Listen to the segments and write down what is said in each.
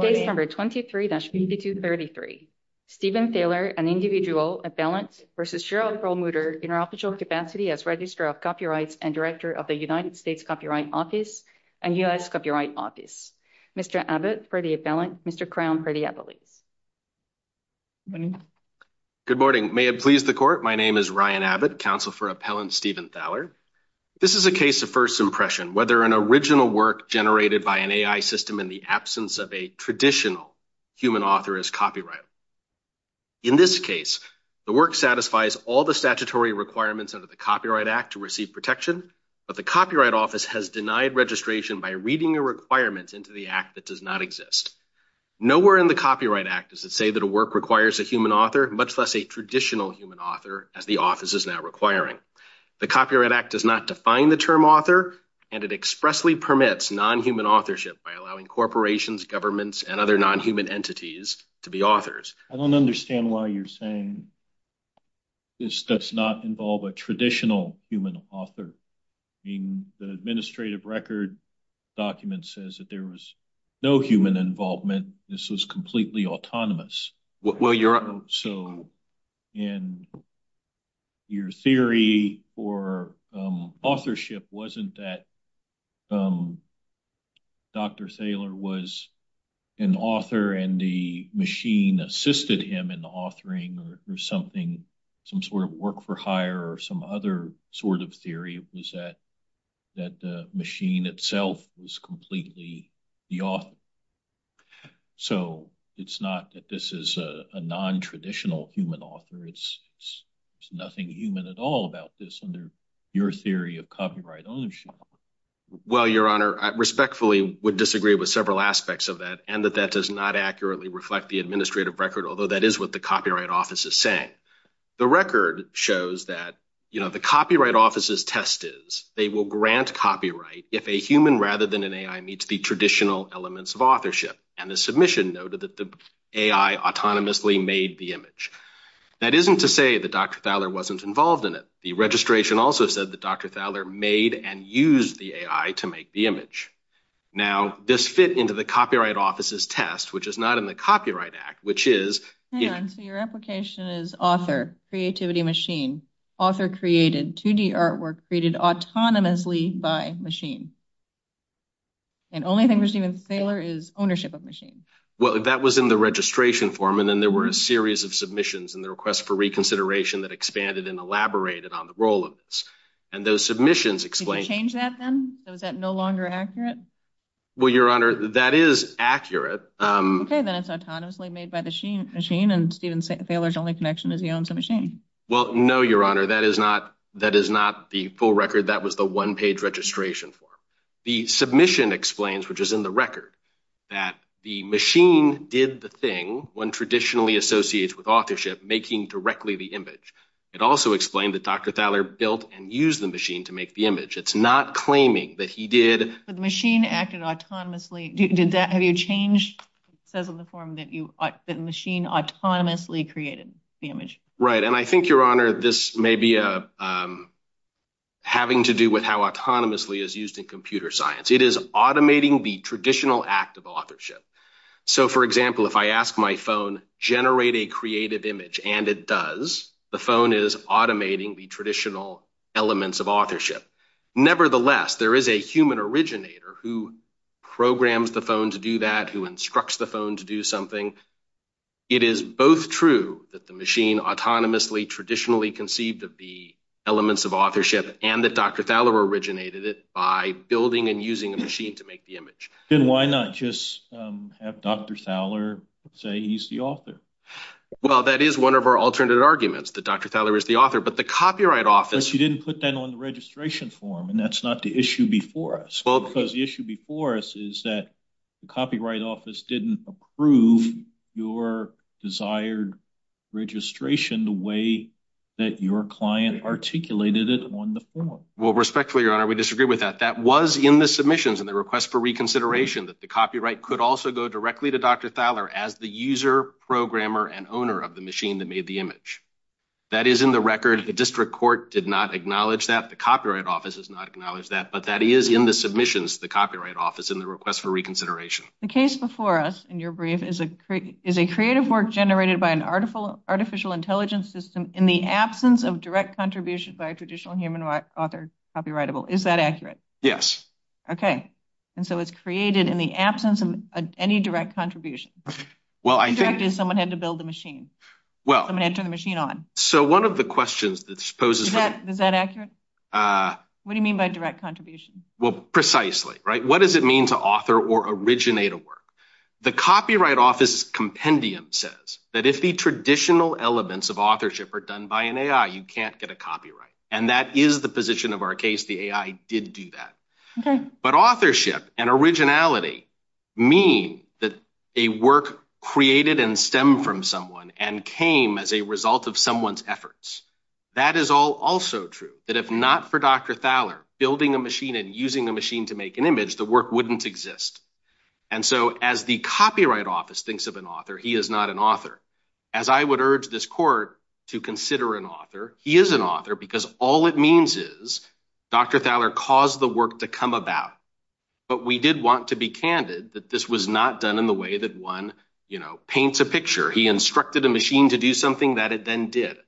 Case number 23-8233. Stephen Thaler, an individual, appellant, versus Shira Perlmutter, in her official capacity as Registrar of Copyrights and Director of the United States Copyright Office and U.S. Copyright Office. Mr. Abbott, pretty appellant. Mr. Crown, pretty appellant. Good morning. May it please the Court, my name is Ryan Abbott, counsel for appellant Stephen Thaler. This is a case of first impression, whether an original work generated by an AI system in the absence of a traditional human author is copyrighted. In this case, the work satisfies all the statutory requirements under the Copyright Act to receive protection, but the Copyright Office has denied registration by reading a requirement into the Act that does not exist. Nowhere in the Copyright Act does it say that a work requires a human author, much less a traditional human author, as the Office is now requiring. The Copyright Act does not define the term author, and it expressly permits non-human authorship by allowing corporations, governments, and other non-human entities to be authors. I don't understand why you're saying this does not involve a traditional human author. The administrative record document says that there was no human involvement, this was completely autonomous. Your theory for authorship wasn't that Dr. Thaler was an author and the machine assisted him in authoring some sort of work-for-hire or some other sort of theory, it was that the machine itself was completely the author. So it's not that this is a non-traditional human author, there's nothing human at all about this under your theory of copyright ownership. Well, Your Honor, I respectfully would disagree with several aspects of that, and that that does not accurately reflect the administrative record, although that is what the Copyright Office is saying. The record shows that, you know, the Copyright Office's test is, they will grant copyright if a human rather than an AI meets the traditional elements of authorship, and the submission noted that the AI autonomously made the image. That isn't to say that Dr. Thaler wasn't involved in it. The registration also said that Dr. Thaler made and used the AI to make the image. Now, this fit into the Copyright Office's test, which is not in the Copyright Act, which is... Hang on, so your application is author, creativity machine, author created, 2D artwork created autonomously by machine. And only thing with Steven Thaler is ownership of machine. Well, that was in the registration form, and then there were a series of submissions in the request for reconsideration that expanded and elaborated on the role of this. And those submissions explained... Did you change that then? Was that no longer accurate? Well, Your Honor, that is accurate. Okay, then it's autonomously made by the machine, and Steven Thaler's only connection is he owns a machine. Well, no, Your Honor, that is not the full record. That was the one-page registration form. The submission explains, which is in the record, that the machine did the thing one traditionally associates with authorship, making directly the image. It also explained that Dr. Thaler built and used the machine to make the image. It's not claiming that he did... But the machine acted autonomously. Have you changed... It says on the form that the machine autonomously created the image. Right, and I think, Your Honor, this may be having to do with how autonomously is used in computer science. It is automating the traditional act of authorship. So, for example, if I ask my phone, generate a creative image, and it does, the phone is automating the traditional elements of authorship. Nevertheless, there is a human originator who programs the phone to do that, who instructs the phone to do something. It is both true that the machine autonomously traditionally conceived of the elements of authorship and that Dr. Thaler originated it by building and using a machine to make the image. Then why not just have Dr. Thaler say he's the author? Well, that is one of our alternate arguments, that Dr. Thaler is the author. But the Copyright Office... But you didn't put that on the registration form, and that's not the issue before us. Because the issue before us is that the Copyright Office didn't approve your desired registration the way that your client articulated it on the form. Well, respectfully, Your Honor, we disagree with that. That was in the submissions in the request for reconsideration, that the copyright could also go directly to Dr. Thaler as the user, programmer, and owner of the machine that made the image. That is in the record. The district court did not acknowledge that. The Copyright Office has not acknowledged that. But that is in the submissions, the Copyright Office, in the request for reconsideration. The case before us in your brief is a creative work generated by an artificial intelligence system in the absence of direct contribution by a traditional human author, copyrightable. Is that accurate? Yes. Okay. And so it's created in the absence of any direct contribution. Well, I think... Direct is someone had to build the machine. Someone had to turn the machine on. So one of the questions that poses... Is that accurate? What do you mean by direct contribution? Well, precisely, right? What does it mean to author or originate a work? The Copyright Office's compendium says that if the traditional elements of authorship are done by an AI, you can't get a copyright. And that is the position of our case. The AI did do that. Okay. But authorship and originality mean that a work created and stemmed from someone and came as a result of someone's efforts. That is also true. That if not for Dr. Thaler building a machine and using a machine to make an image, the work wouldn't exist. And so as the Copyright Office thinks of an author, he is not an author. As I would urge this court to consider an author, he is an author because all it means is Dr. Thaler caused the work to come about. But we did want to be candid that this was not done in the way that one paints a picture. He instructed a machine to do something that it then did.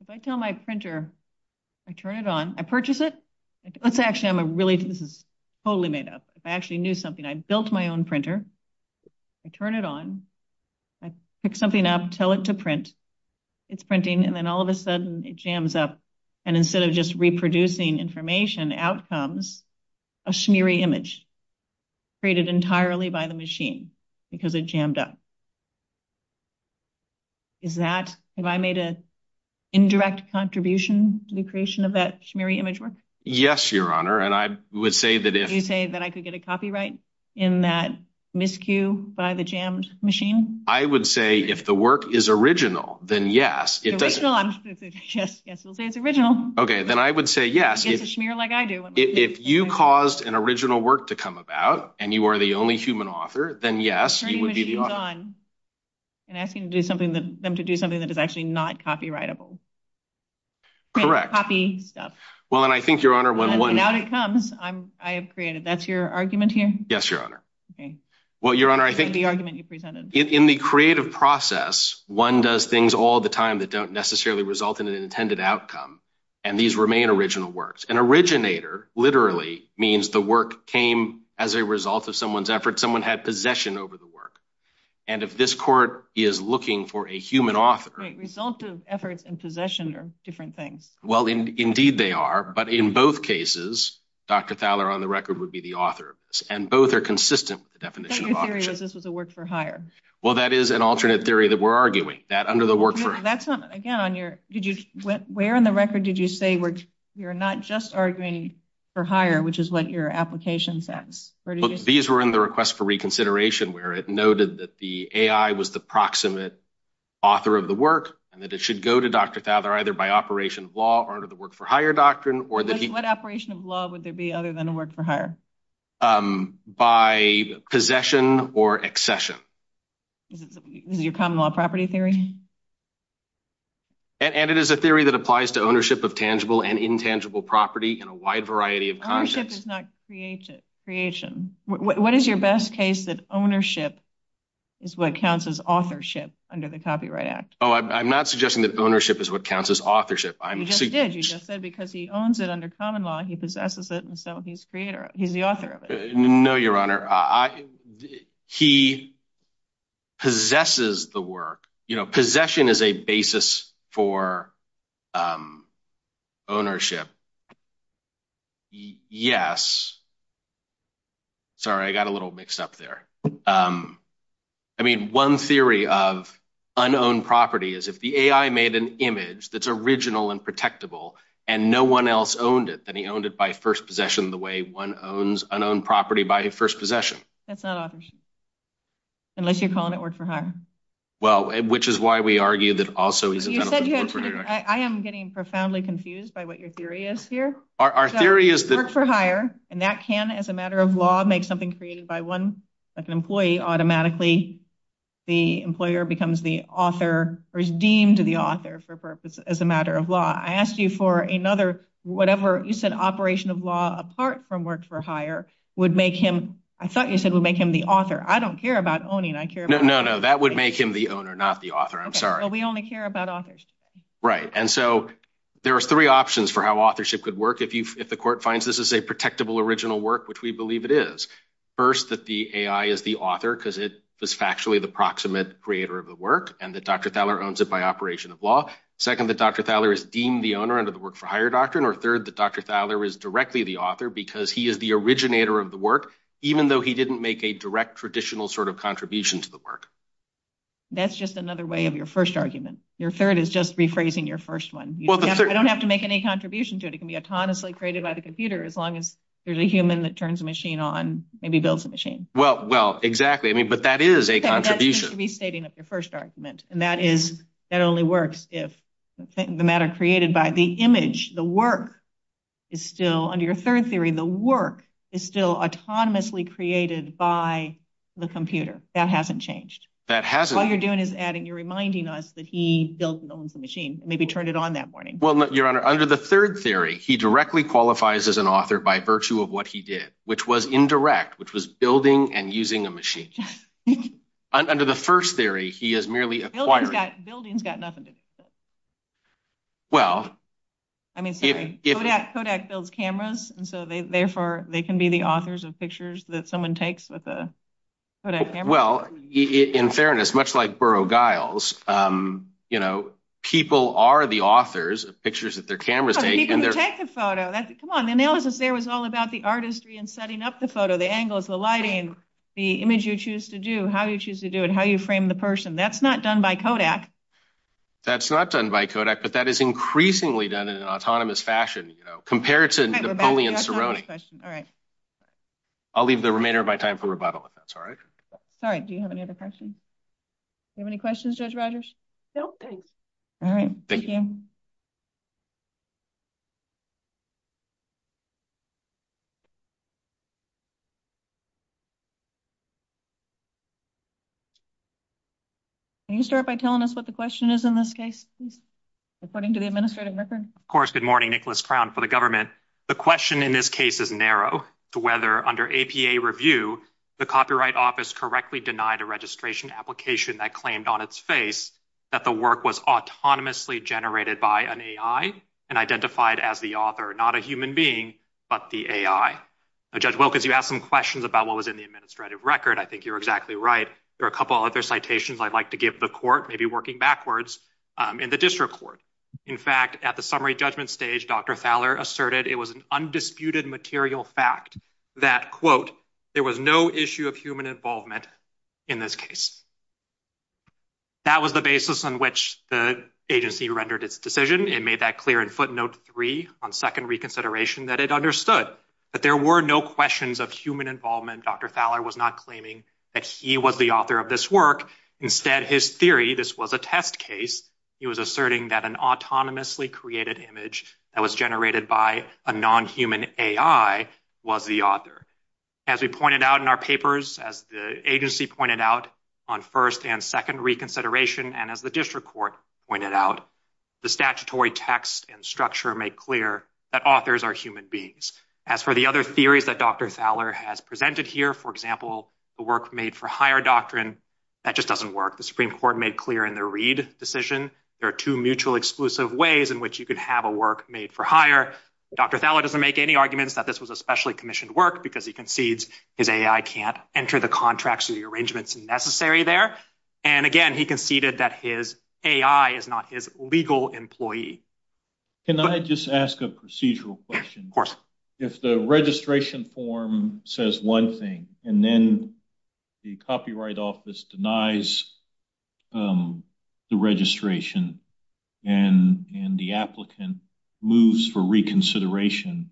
If I tell my printer, I turn it on, I purchase it. Let's say actually I'm a really... This is totally made up. If I actually knew something, I built my own printer. I turn it on. I pick something up, tell it to print. It's printing. And then all of a sudden, it jams up. And instead of just reproducing information, out comes a smeary image created entirely by the machine because it jammed up. Is that... Have I made an indirect contribution to the creation of that smeary image work? Yes, Your Honor. And I would say that if... You say that I could get a copyright in that miscue by the jammed machine? I would say if the work is original, then yes. It's original? Yes. Yes, we'll say it's original. Okay. Then I would say yes. It gets a schmear like I do. If you caused an original work to come about and you are the only human author, then yes, you would be the author. Turning machines on and asking them to do something that is actually not copyrightable. Correct. Copy stuff. Well, and I think, Your Honor, when one... And out it comes. I have created. That's your argument here? Yes, Your Honor. Okay. Well, Your Honor, I think... That's the argument you presented. In the creative process, one does things all the time that don't necessarily result in an intended outcome, and these remain original works. An originator literally means the work came as a result of someone's effort. Someone had possession over the work. And if this court is looking for a human author... Right. Result of efforts and possession are different things. Well, indeed they are, but in both cases, Dr. Thaler, on the record, would be the author of this. And both are consistent with the definition of authorship. But my theory was this was a work for hire. Well, that is an alternate theory that we're arguing. That under the work for... No, that's not... Again, on your... Did you... Where on the record did you say you're not just arguing for hire, which is what your application says? Where did you... These were in the request for reconsideration, where it noted that the AI was the proximate author of the work, and that it should go to Dr. Thaler either by operation of law or under the work for hire doctrine, or that he... What operation of law would there be other than a work for hire? By possession or accession. Is it your common law property theory? And it is a theory that applies to ownership of tangible and intangible property in a wide variety of contexts. Ownership is not creation. What is your best case that ownership is what counts as authorship under the Copyright Act? Oh, I'm not suggesting that ownership is what counts as authorship. You just did. You just said because he owns it under common law, he possesses it, and so he's creator... He's the author of it. No, Your Honor. He possesses the work. Possession is a basis for ownership. Yes. Sorry, I got a little mixed up there. I mean, one theory of unowned property is if the AI made an image that's original and unowned property by first possession. That's not authorship. Unless you're calling it work for hire. Well, which is why we argue that also... I am getting profoundly confused by what your theory is here. Our theory is that... Work for hire, and that can, as a matter of law, make something created by one, like an employee, automatically the employer becomes the author or is deemed the author for a purpose as a matter of law. I asked you for another... Whatever... You said operation of law apart from work for hire would make him... I thought you said it would make him the author. I don't care about owning. I care about... No, no, no. That would make him the owner, not the author. I'm sorry. Well, we only care about authors. Right. And so there are three options for how authorship could work if the court finds this is a protectable original work, which we believe it is. First, that the AI is the author because it was factually the proximate creator of the work, and that Dr. Thaler owns it by operation of law. Second, that Dr. Thaler is deemed the owner under the work for hire doctrine. Or third, that Dr. Thaler is directly the author because he is the originator of the work, even though he didn't make a direct traditional sort of contribution to the work. That's just another way of your first argument. Your third is just rephrasing your first one. Well, the third... I don't have to make any contribution to it. It can be autonomously created by the computer as long as there's a human that turns a machine on, maybe builds a machine. Well, well, exactly. I mean, but that is a contribution. You should be stating up your first argument, and that only works if the matter created by the image, the work, is still, under your third theory, the work is still autonomously created by the computer. That hasn't changed. That hasn't. All you're doing is adding, you're reminding us that he built and owns the machine, and maybe turned it on that morning. Well, Your Honor, under the third theory, he directly qualifies as an author by virtue of what he did, which was indirect, which was building and using a machine. Under the first theory, he is merely acquiring... Building's got nothing to do with it. Well... I mean, sorry. Kodak builds cameras, and so therefore they can be the authors of pictures that someone takes with a Kodak camera. Well, in fairness, much like Burrough Giles, you know, people are the authors of pictures that their cameras take. No, the people who take the photo. Come on, the analysis there was all about the artistry in setting up the photo, the angles, the lighting, the image you choose to do, how you choose to do it, how you frame the person. That's not done by Kodak. That's not done by Kodak, but that is increasingly done in an autonomous fashion, you know, compared to Napoleon Sironi. All right. I'll leave the remainder of my time for rebuttal if that's all right. All right. Do you have any other questions? Do you have any questions, Judge Rogers? No, thanks. All right. Thank you. Can you start by telling us what the question is in this case, according to the administrative record? Good morning. Nicholas Crown for the government. The question in this case is narrow to whether under APA review, the Copyright Office correctly denied a registration application that claimed on its face that the work was autonomously generated by an AI and identified as the author, not a human being, but the AI. Judge Wilkins, you asked some questions about what was in the administrative record. I think you're exactly right. There are a couple other citations I'd like to give the court, maybe working backwards, in the district court. In fact, at the summary judgment stage, Dr. Thaler asserted it was an undisputed material fact that, quote, there was no issue of human involvement in this case. That was the basis on which the agency rendered its decision. It made that clear in footnote three on second reconsideration that it understood that there were no questions of human involvement. Dr. Thaler was not claiming that he was the author of this work. Instead, his theory, this was a test case, he was asserting that an autonomously created image that was generated by a non-human AI was the author. As we pointed out in our papers, as the agency pointed out on first and second reconsideration, and as the district court pointed out, the statutory text and structure make clear that authors are human beings. As for the other theories that Dr. Thaler has presented here, for example, the work made for hire doctrine, that just doesn't work. The Supreme Court made clear in the Reid decision there are two mutual exclusive ways in which you could have a work made for hire. Dr. Thaler doesn't make any arguments that this was a specially commissioned work because he concedes his AI can't enter the contracts or the arrangements necessary there. And again, he conceded that his AI is not his legal employee. Can I just ask a procedural question? Of course. If the registration form says one thing and then the copyright office denies the registration and the applicant moves for reconsideration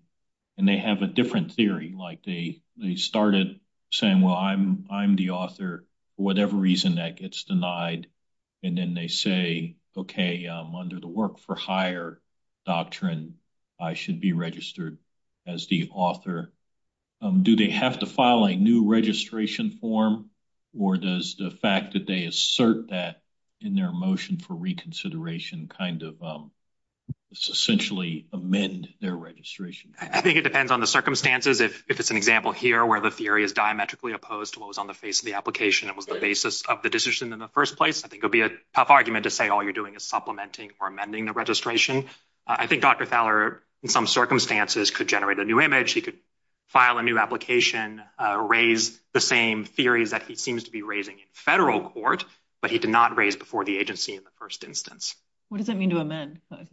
and they have a different theory, like they started saying, well, I'm the author for whatever reason that gets denied, and then they say, okay, under the work for hire doctrine, I should be registered as the author. Do they have to file a new registration form, or does the fact that they assert that in their motion for reconsideration kind of essentially amend their registration? I think it depends on the circumstances. If it's an example here where the theory is diametrically opposed to what was on the face of the application and was the basis of the decision in the first place, I think it would be a tough argument to say all you're doing is supplementing or amending the registration. I think Dr. Thaler, in some circumstances, could generate a new image. He could file a new application, raise the same theories that he seems to be raising in federal court, but he did not raise before the agency in the first instance. What does that mean to amend? As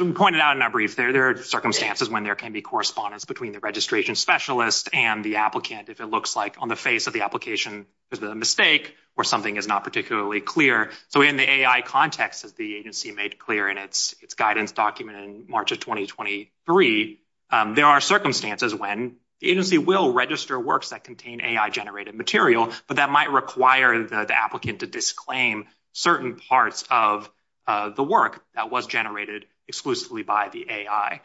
we pointed out in our brief, there are circumstances when there can be correspondence between the registration specialist and the applicant if it looks like on the face of the application there's been a mistake or something is not particularly clear. In the AI context, as the agency made clear in its guidance document in March of 2023, there are circumstances when the agency will register works that contain AI-generated material, but that might require the applicant to disclaim certain parts of the work that was generated exclusively by the AI.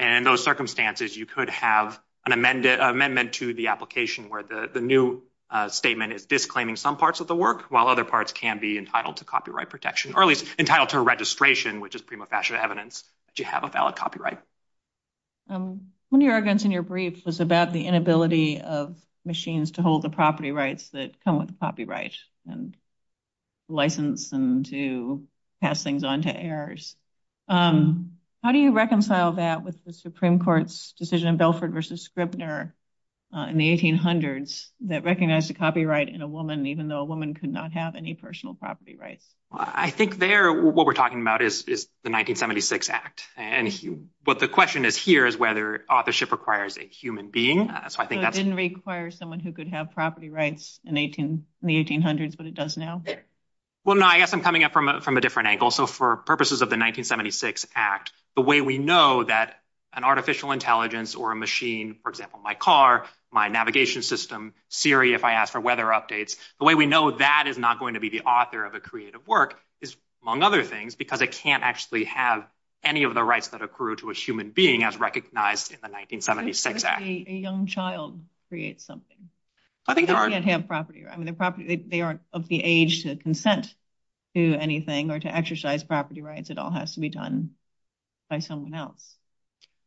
In those circumstances, you could have an amendment to the application where the new statement is disclaiming some parts of the work, while other parts can be entitled to copyright protection, or at least entitled to a registration, which is prima facie evidence that you have a valid copyright. One of your arguments in your brief was about the inability of machines to hold the property rights that come with the copyright and license them to pass things on to heirs. How do you reconcile that with the Supreme Court's decision in Belford v. Scribner in the 1800s that recognized the copyright in a woman, even though a woman could not have any personal property rights? I think there, what we're talking about is the 1976 Act, and what the question is here is whether authorship requires a human being. So it didn't require someone who could have property rights in the 1800s, but it does now? Well, no, I guess I'm coming at it from a different angle. So for purposes of the 1976 Act, the way we know that an artificial intelligence or a machine, for example, my car, my navigation system, Siri, if I ask for weather updates, the way we know that is not going to be the author of a creative work is, among other things, because it can't actually have any of the rights that accrue to a human being as recognized in the 1976 Act. A young child creates something. They can't have property. They aren't of the age to consent to anything or to exercise property rights. It all has to be done by someone else.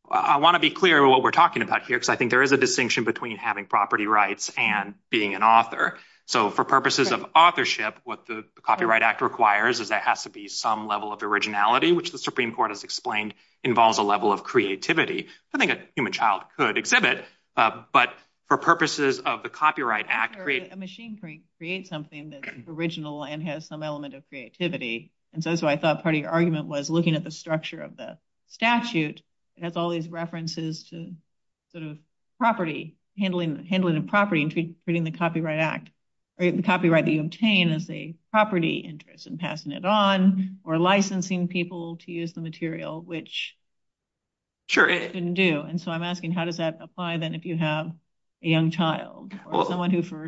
I want to be clear what we're talking about here, because I think there is a distinction between having property rights and being an author. So for purposes of authorship, what the Copyright Act requires is there has to be some level of originality, which the Supreme Court has explained involves a level of creativity. I think a human child could exhibit, but for purposes of the Copyright Act. A machine could create something that's original and has some element of creativity. That's why I thought part of your argument was looking at the structure of the statute has all these references to handling of property and treating the Copyright Act or the copyright that you obtain as a property interest and passing it on or licensing people to use the material, which you couldn't do. And so I'm asking, how does that apply then if you have a young child or someone who, for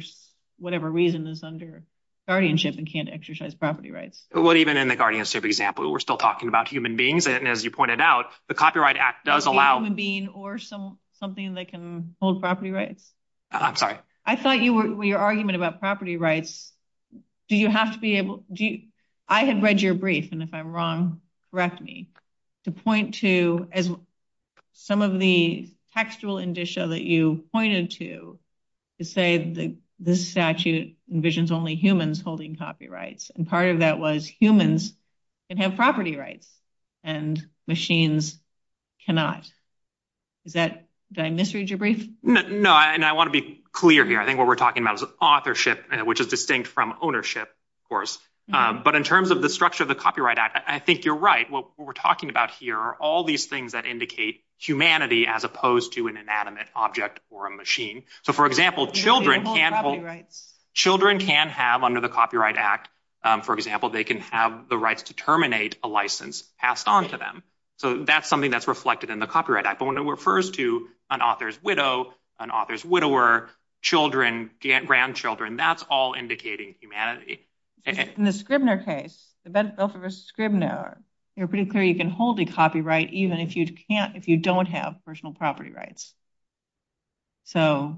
whatever reason, is under guardianship and can't exercise property rights? Even in the guardianship example, we're still talking about human beings. And as you pointed out, the Copyright Act does allow… A human being or something that can hold property rights. I'm sorry. I thought your argument about property rights, do you have to be able… I had read your brief, and if I'm wrong, correct me, to point to some of the textual indicia that you pointed to to say the statute envisions only humans holding copyrights. And part of that was humans can have property rights and machines cannot. Did I misread your brief? No, and I want to be clear here. I think what we're talking about is authorship, which is distinct from ownership, of course. But in terms of the structure of the Copyright Act, I think you're right. What we're talking about here are all these things that indicate humanity as opposed to an inanimate object or a machine. So, for example, children can have under the Copyright Act, for example, they can have the rights to terminate a license passed on to them. So that's something that's reflected in the Copyright Act. But when it refers to an author's widow, an author's widower, children, grandchildren, that's all indicating humanity. In the Scribner case, the Belford v. Scribner, you're pretty clear you can hold a copyright even if you don't have personal property rights. So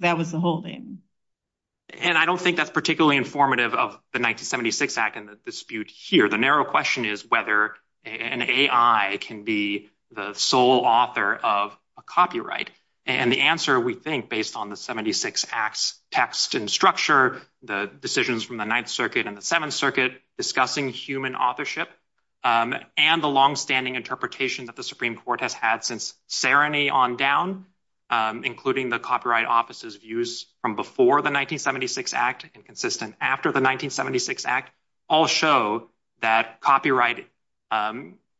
that was the holding. And I don't think that's particularly informative of the 1976 Act and the dispute here. The narrow question is whether an AI can be the sole author of a copyright. And the answer, we think, based on the 1976 Act's text and structure, the decisions from the Ninth Circuit and the Seventh Circuit discussing human authorship, and the longstanding interpretation that the Supreme Court has had since serenity on down, including the Copyright Office's views from before the 1976 Act and consistent after the 1976 Act, all show that copyright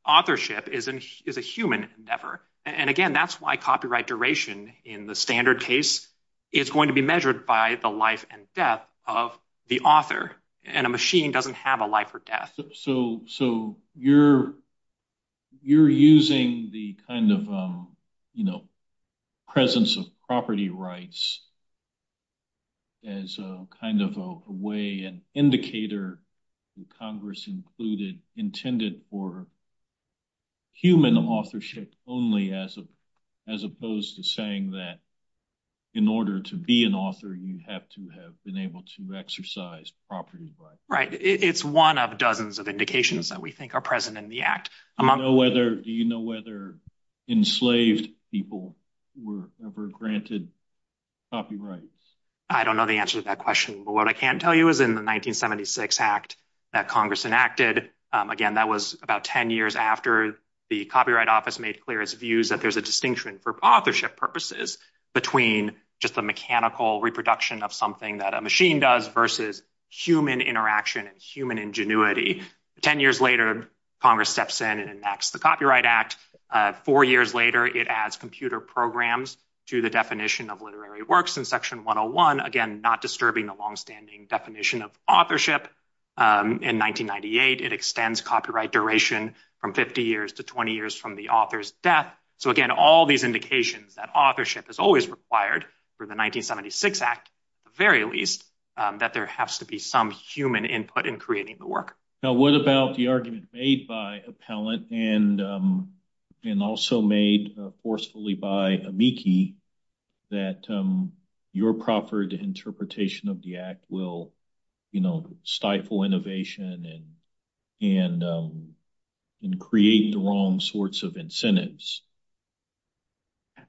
authorship is a human endeavor. And again, that's why copyright duration in the standard case is going to be measured by the life and death of the author. And a machine doesn't have a life or death. So you're using the kind of presence of property rights as a kind of a way, an indicator that Congress intended for human authorship only as opposed to saying that in order to be an author, you have to have been able to exercise property rights. Right. It's one of dozens of indications that we think are present in the Act. Do you know whether enslaved people were ever granted copyright? I don't know the answer to that question. But what I can tell you is in the 1976 Act that Congress enacted, again, that was about 10 years after the Copyright Office made clear its views that there's a distinction for authorship purposes between just the mechanical reproduction of something that a machine does versus human interaction and human ingenuity. 10 years later, Congress steps in and enacts the Copyright Act. Four years later, it adds computer programs to the definition of literary works in Section 101. Again, not disturbing the longstanding definition of authorship. In 1998, it extends copyright duration from 50 years to 20 years from the author's death. So again, all these indications that authorship is always required for the 1976 Act, at the human input in creating the work. Now, what about the argument made by Appellant and also made forcefully by Amici that your proffered interpretation of the Act will stifle innovation and create the wrong sorts of incentives?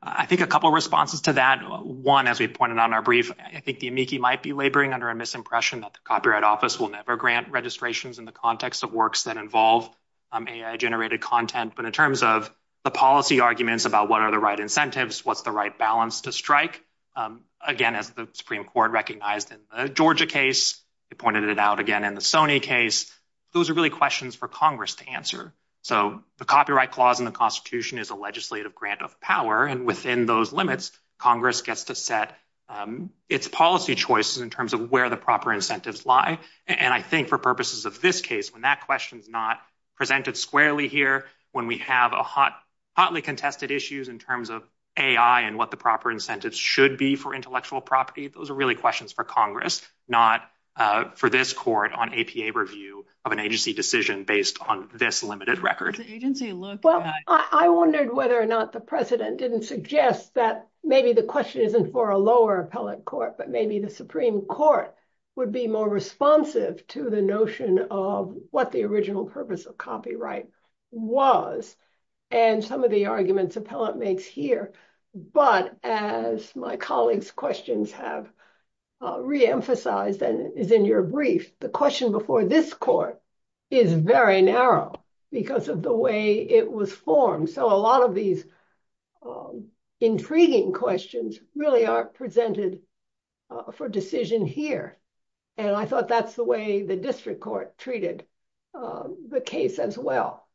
I think a couple of responses to that. One, as we pointed out in our brief, I think the Amici might be laboring under a misinterpretation that the Copyright Office will never grant registrations in the context of works that involve AI-generated content. But in terms of the policy arguments about what are the right incentives, what's the right balance to strike? Again, as the Supreme Court recognized in the Georgia case, it pointed it out again in the Sony case. Those are really questions for Congress to answer. So the Copyright Clause in the Constitution is a legislative grant of power. And within those limits, Congress gets to set its policy choices in terms of where the proper incentives lie. And I think for purposes of this case, when that question is not presented squarely here, when we have hotly contested issues in terms of AI and what the proper incentives should be for intellectual property, those are really questions for Congress, not for this Court on APA review of an agency decision based on this limited record. Well, I wondered whether or not the President didn't suggest that maybe the question isn't for a lower appellate court, but maybe the Supreme Court would be more responsive to the notion of what the original purpose of copyright was and some of the arguments appellate makes here. But as my colleagues' questions have reemphasized and is in your brief, the question before this court is very narrow because of the way it was formed. So a lot of these intriguing questions really are presented for decision here. And I thought that's the way the district court treated the case as well.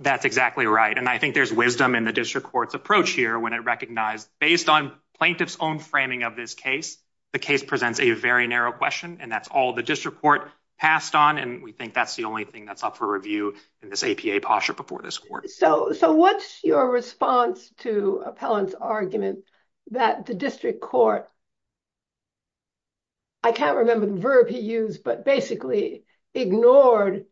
That's exactly right. And I think there's wisdom in the district court's approach here when it recognized based on plaintiff's own framing of this case, the case presents a very narrow question. And that's all the district court passed on. And we think that's the only thing that's up for review in this APA posture before this court. So what's your response to appellant's argument that the district court, I can't remember the verb he used, but basically ignored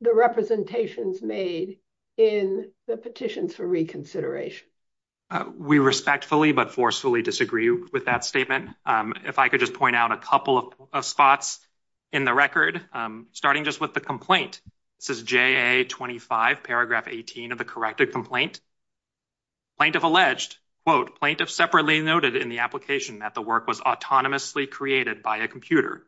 the representations made in the petitions for reconsideration? We respectfully but forcefully disagree with that statement. Again, if I could just point out a couple of spots in the record, starting just with the complaint. This is JA 25, paragraph 18 of the corrected complaint. Plaintiff alleged, quote, plaintiff separately noted in the application that the work was autonomously created by a computer.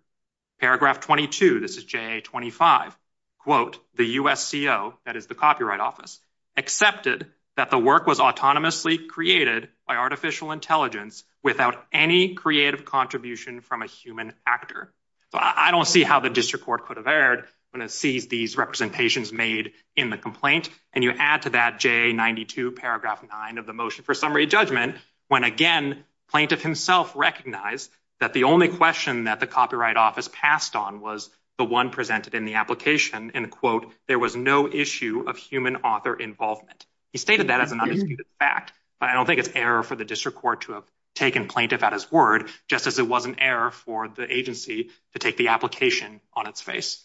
Paragraph 22, this is JA 25, quote, the USCO, that is the Copyright Office, accepted that the work was autonomously created by artificial intelligence without any creative contribution from a human actor. So I don't see how the district court could have erred when it sees these representations made in the complaint. And you add to that JA 92, paragraph 9 of the motion for summary judgment when, again, plaintiff himself recognized that the only question that the Copyright Office passed on was the one presented in the application, and, quote, there was no issue of human author involvement. He stated that as an undisputed fact, but I don't think it's error for the district court to have taken plaintiff at his word, just as it wasn't error for the agency to take the application on its face.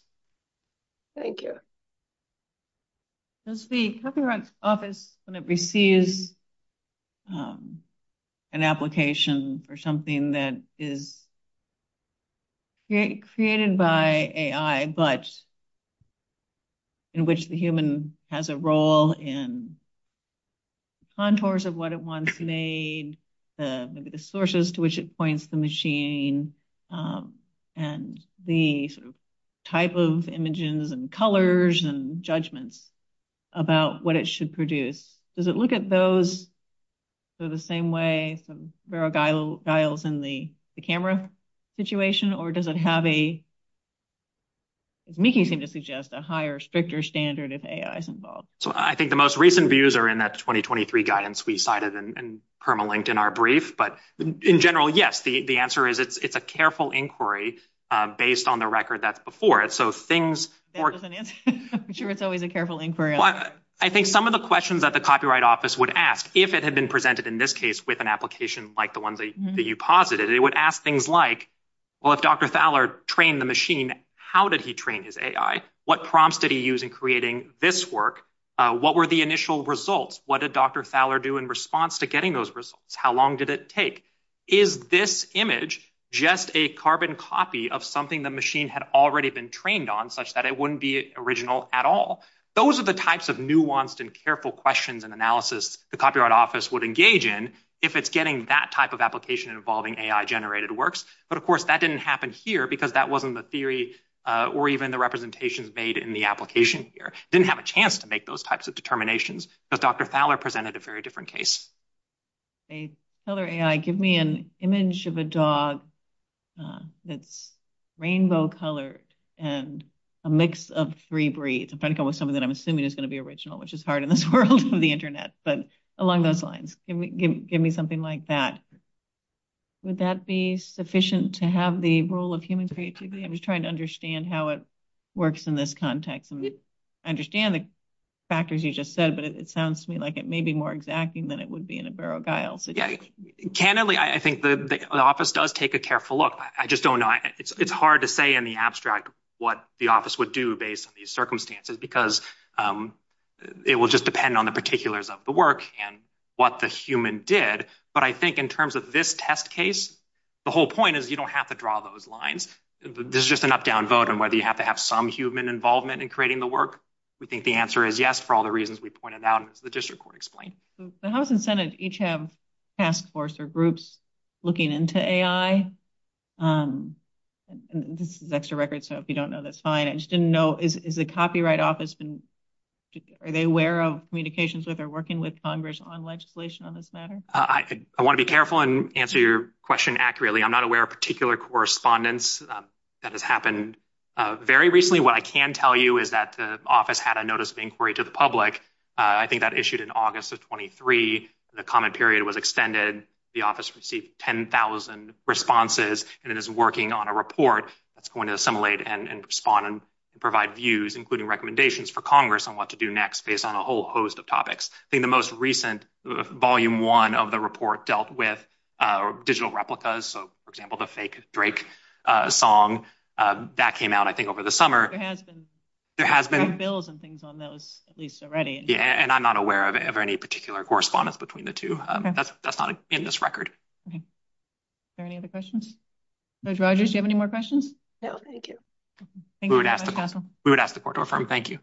Thank you. Does the Copyright Office, when it receives an application for something that is created by AI, but in which the human has a role in contours of what it wants made, maybe the sources to which it points the machine, and the sort of type of images and colors and judgments about what it should produce, does it look at those the same way some variegals in the camera situation, or does it have a, as Mickey seemed to suggest, a higher, stricter standard if AI is involved? So I think the most recent views are in that 2023 guidance we cited and permalinked in our brief, but in general, yes, the answer is it's a careful inquiry based on the record that's before it, so things... I'm sure it's always a careful inquiry. I think some of the questions that the Copyright Office would ask if it had been presented in this case with an application like the ones that you posited, it would ask things like, well, if Dr. Thaler trained the machine, how did he train his AI? What prompts did he use in creating this work? What were the initial results? What did Dr. Thaler do in response to getting those results? How long did it take? Is this image just a carbon copy of something the machine had already been trained on such that it wouldn't be original at all? Those are the types of nuanced and careful questions and analysis the Copyright Office would engage in if it's getting that type of application involving AI-generated works, but, of course, that didn't happen here because that wasn't the theory or even the representations made in the application here. Didn't have a chance to make those types of determinations because Dr. Thaler presented a very different case. Hey, Thaler AI, give me an image of a dog that's rainbow-colored and a mix of three breeds. I'm trying to come up with something that I'm assuming is going to be original, which is hard in this world of the internet, but along those lines, give me something like that. Would that be sufficient to have the role of human creativity? I'm just trying to understand how it works in this context. I understand the factors you just said, but it sounds to me like it may be more exacting than it would be in a Burrough-Giles situation. Yeah. Candidly, I think the Office does take a careful look. I just don't know. It's hard to say in the abstract what the Office would do based on these circumstances because it will just depend on the particulars of the work and what the human did. But I think in terms of this test case, the whole point is you don't have to draw those lines. This is just an up-down vote on whether you have to have some human involvement in creating the work. We think the answer is yes for all the reasons we pointed out and as the district court explained. The House and Senate each have task force or groups looking into AI. This is extra record, so if you don't know, that's fine. I just didn't know, is the Copyright Office, are they aware of communications with or working with Congress on legislation on this matter? I want to be careful and answer your question accurately. I'm not aware of particular correspondence that has happened. Very recently, what I can tell you is that the Office had a notice of inquiry to the I think that issued in August of 23. The comment period was extended. The Office received 10,000 responses, and it is working on a report that's going to respond and provide views, including recommendations for Congress on what to do next, based on a whole host of topics. I think the most recent, Volume 1 of the report, dealt with digital replicas. For example, the fake Drake song, that came out, I think, over the summer. There have been bills and things on those, at least already. I'm not aware of any particular correspondence between the two. That's not in this record. Are there any other questions? Judge Rogers, do you have any more questions? No, thank you. We would ask the court to affirm. Thank you.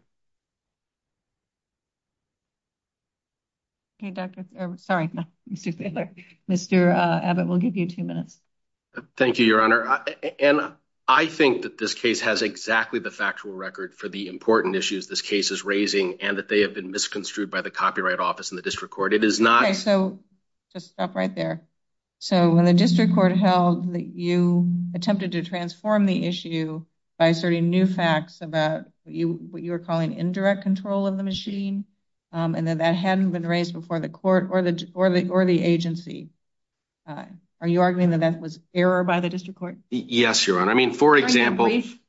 Mr. Abbott, we'll give you two minutes. Thank you, Your Honor. I think that this case has exactly the factual record for the important issues this case is raising, and that they have been misconstrued by the Copyright Office and the District Court. It is not Okay, so just stop right there. When the District Court held that you attempted to transform the issue by asserting new facts about what you were calling indirect control of the machine, and that that hadn't been raised before the court or the agency, are you arguing that that was error by the District Court? Yes, Your Honor. I mean, for example,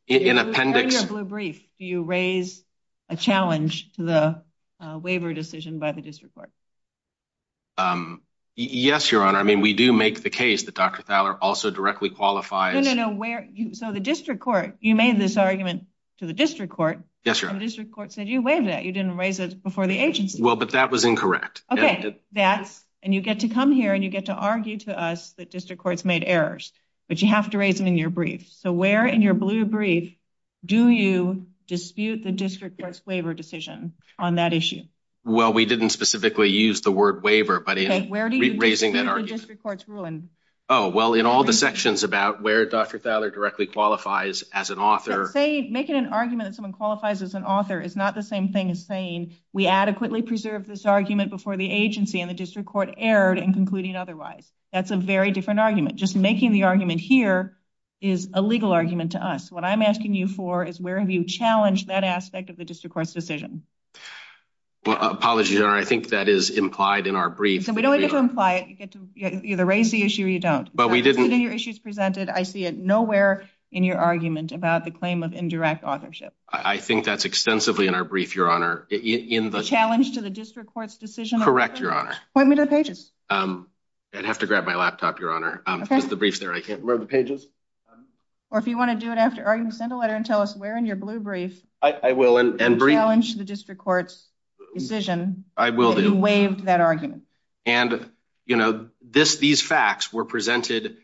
in appendix In your blue brief, do you raise a challenge to the waiver decision by the District Court? Yes, Your Honor. I mean, we do make the case that Dr. Thaler also directly qualifies No, no, no. So the District Court, you made this argument to the District Court Yes, Your Honor. And the District Court said you waived that. You didn't raise it before the agency. Well, but that was incorrect. Okay. And you get to come here and you get to argue to us that District Courts made errors, but you have to raise them in your brief. So where in your blue brief do you dispute the District Court's waiver decision on that issue? Well, we didn't specifically use the word waiver, but in raising that argument Okay. Where do you dispute the District Court's ruling? Oh, well, in all the sections about where Dr. Thaler directly qualifies as an author Say, making an argument that someone qualifies as an author is not the same thing as saying we adequately preserved this argument before the agency and the District Court erred in concluding otherwise. That's a very different argument. Just making the argument here is a legal argument to us. What I'm asking you for is where have you challenged that aspect of the District Court's decision? Well, apologies, Your Honor. I think that is implied in our brief. So we don't need to imply it. You get to either raise the issue or you don't. But we didn't. In your issues presented, I see it nowhere in your argument about the claim of indirect authorship. I think that's extensively in our brief, Your Honor. In the challenge to the District Court's decision? Correct, Your Honor. Point me to the pages. I'd have to grab my laptop, Your Honor. There's the brief there. I can't remember the pages. Or if you want to do it after arguing, send a letter and tell us where in your blue brief I will. In the challenge to the District Court's decision. I will do. That you waived that argument. And, you know, these facts were presented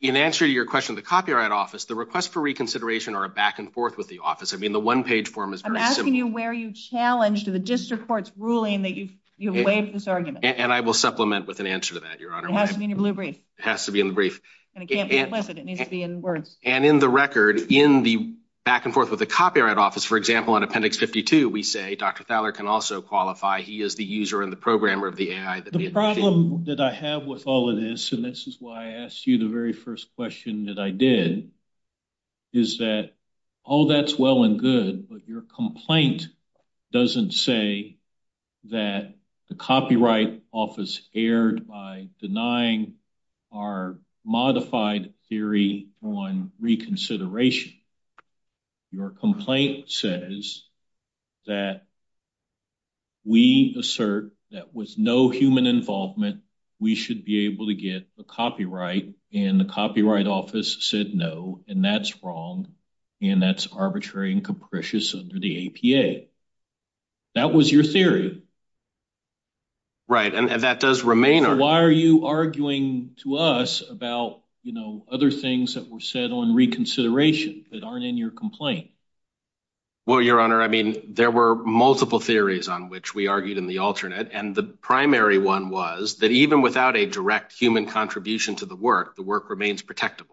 in answer to your question of the Copyright Office, the request for reconsideration or a back and forth with the office. I mean, the one-page form is very simple. I'm asking you where you challenged the District Court's ruling that you waived this argument. And I will supplement with an answer to that, Your Honor. It has to be in your blue brief. It has to be in the brief. And it can't be implicit. It needs to be in words. And in the record, in the back and forth with the Copyright Office, for example, on Appendix 52, we say Dr. Thaler can also qualify. He is the user and the programmer of the AI. The problem that I have with all of this, and this is why I asked you the very first question that I did, is that all that's well and good. But your complaint doesn't say that the Copyright Office erred by denying our modified theory on reconsideration. Your complaint says that we assert that with no human involvement, we should be able to get a copyright, and the Copyright Office said no, and that's wrong, and that's arbitrary and capricious under the APA. That was your theory. Right. And that does remain our theory. Are you arguing to us about other things that were said on reconsideration that aren't in your complaint? Well, Your Honor, I mean, there were multiple theories on which we argued in the alternate, and the primary one was that even without a direct human contribution to the work, the work remains protectable.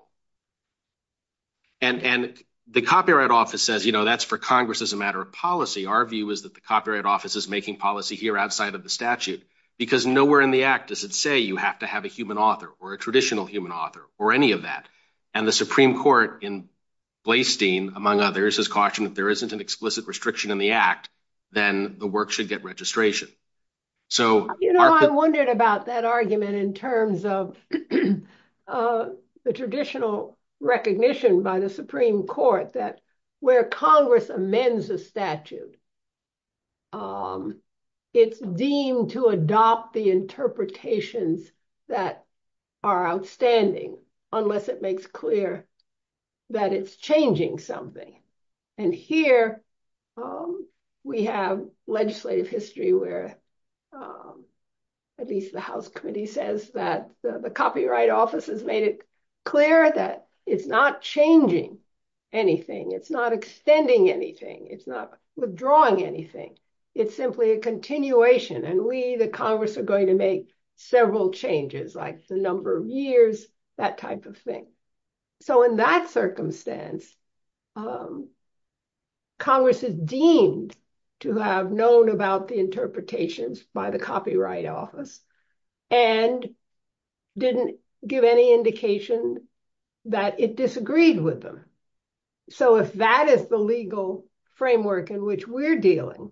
And the Copyright Office says that's for Congress as a matter of policy. Our view is that the Copyright Office is making policy here outside of the statute, because nowhere in the Act does it say you have to have a human author or a traditional human author or any of that. And the Supreme Court in Blastein, among others, has cautioned that if there isn't an explicit restriction in the Act, then the work should get registration. You know, I wondered about that argument in terms of the traditional recognition by the interpretations that are outstanding, unless it makes clear that it's changing something. And here we have legislative history where at least the House Committee says that the Copyright Office has made it clear that it's not changing anything. It's not extending anything. It's not withdrawing anything. It's simply a continuation. And we, the Congress, are going to make several changes, like the number of years, that type of thing. So in that circumstance, Congress is deemed to have known about the interpretations by the Copyright Office and didn't give any indication that it disagreed with them. So if that is the legal framework in which we're dealing,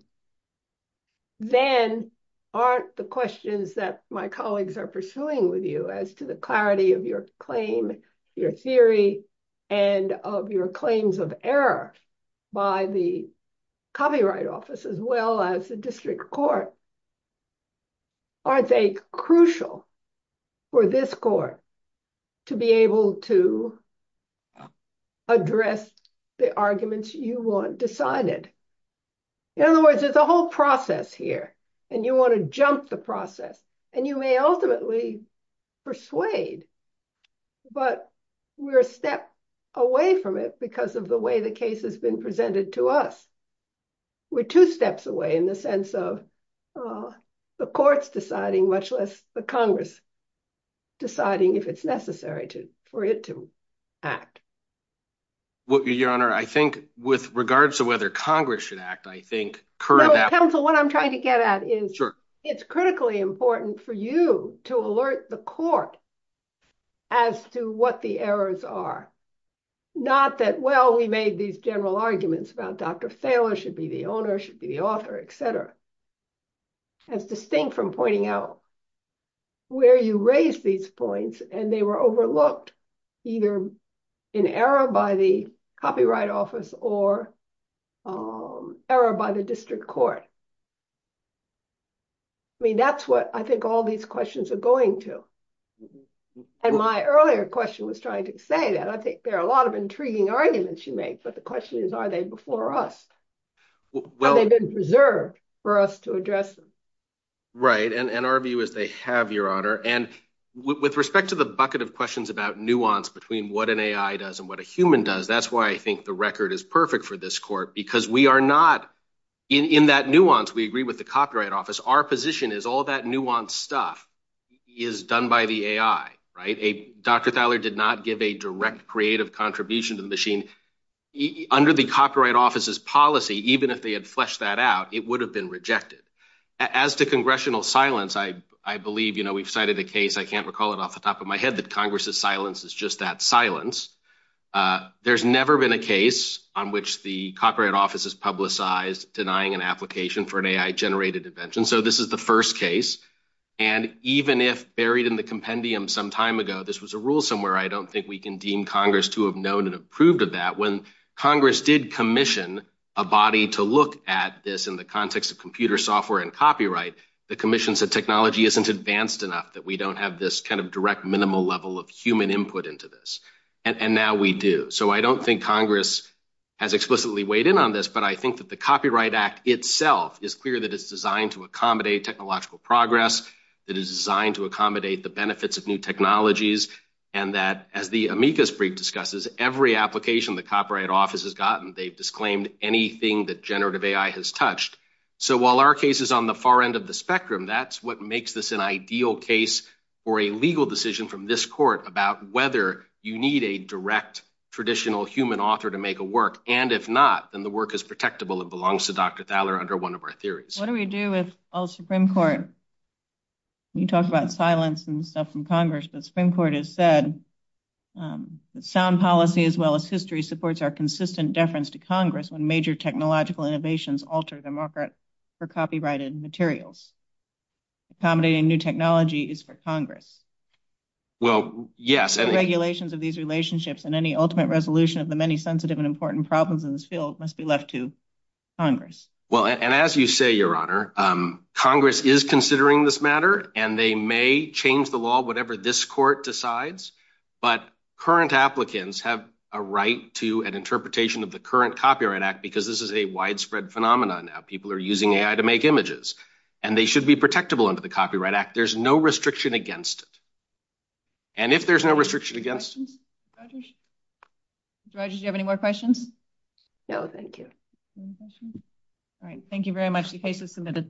then aren't the questions that my colleagues are pursuing with you as to the clarity of your claim, your theory, and of your claims of error by the Copyright Office, as well as the District Court, aren't they crucial for this court to be able to address the arguments you want decided? In other words, there's a whole process here, and you want to jump the process. And you may ultimately persuade. But we're a step away from it because of the way the case has been presented to us. We're two steps away in the sense of the courts deciding, much less the Congress deciding if it's necessary for it to act. Well, Your Honor, I think with regards to whether Congress should act, I think current counsel, what I'm trying to get at is it's critically important for you to alert the court as to what the errors are. Not that, well, we made these general arguments about Dr. Thaler should be the owner, should be the author, et cetera. That's distinct from pointing out where you raise these points, and they were overlooked either in error by the Copyright Office or error by the District Court. I mean, that's what I think all these questions are going to. And my earlier question was trying to say that. I think there are a lot of intriguing arguments you make, but the question is, are they before us? Have they been preserved for us to address them? Right. And our view is they have, Your Honor. And with respect to the bucket of questions about nuance between what an AI does and what a human does, that's why I think the record is perfect for this court, because we are not in that nuance. We agree with the Copyright Office. Our position is all that nuance stuff is done by the AI, right? Dr. Thaler did not give a direct creative contribution to the machine. Under the Copyright Office's policy, even if they had fleshed that out, it would have been rejected. As to congressional silence, I believe, you know, we've cited a case. I can't recall it off the top of my head that Congress's silence is just that silence. There's never been a case on which the Copyright Office has publicized denying an application for an AI-generated invention. So this is the first case. And even if buried in the compendium some time ago, this was a rule somewhere, I don't think we can deem Congress to have known and approved of that. When Congress did commission a body to look at this in the context of computer software and copyright, the commission said technology isn't advanced enough, that we don't have this kind of direct minimal level of human input into this. And now we do. So I don't think Congress has explicitly weighed in on this, but I think that the Copyright Act itself is clear that it's designed to accommodate technological progress, that it's designed to accommodate the benefits of new technologies, and that, as the amicus brief discusses, every application the Copyright Office has gotten, they've disclaimed anything that generative AI has So while our case is on the far end of the spectrum, that's what makes this an ideal case for a legal decision from this court about whether you need a direct traditional human author to make a work. And if not, then the work is protectable and belongs to Dr. Thaler under one of our theories. What do we do with all the Supreme Court? You talk about silence and stuff from Congress, but the Supreme Court has said that sound policy as well as history supports our consistent deference to Congress when major technological innovations alter the market for copyrighted materials. Accommodating new technology is for Congress. Well, yes. Regulations of these relationships and any ultimate resolution of the many sensitive and important problems in this field must be left to Congress. Well, and as you say, Your Honor, Congress is considering this matter, and they may change the law, whatever this court decides. But current applicants have a right to an interpretation of the current Copyright Act because this is a widespread phenomenon. People are using AI to make images. And they should be protectable under the Copyright Act. There's no restriction against it. And if there's no restriction against it. Rogers, do you have any more questions? No, thank you. All right. Thank you very much. The case is submitted.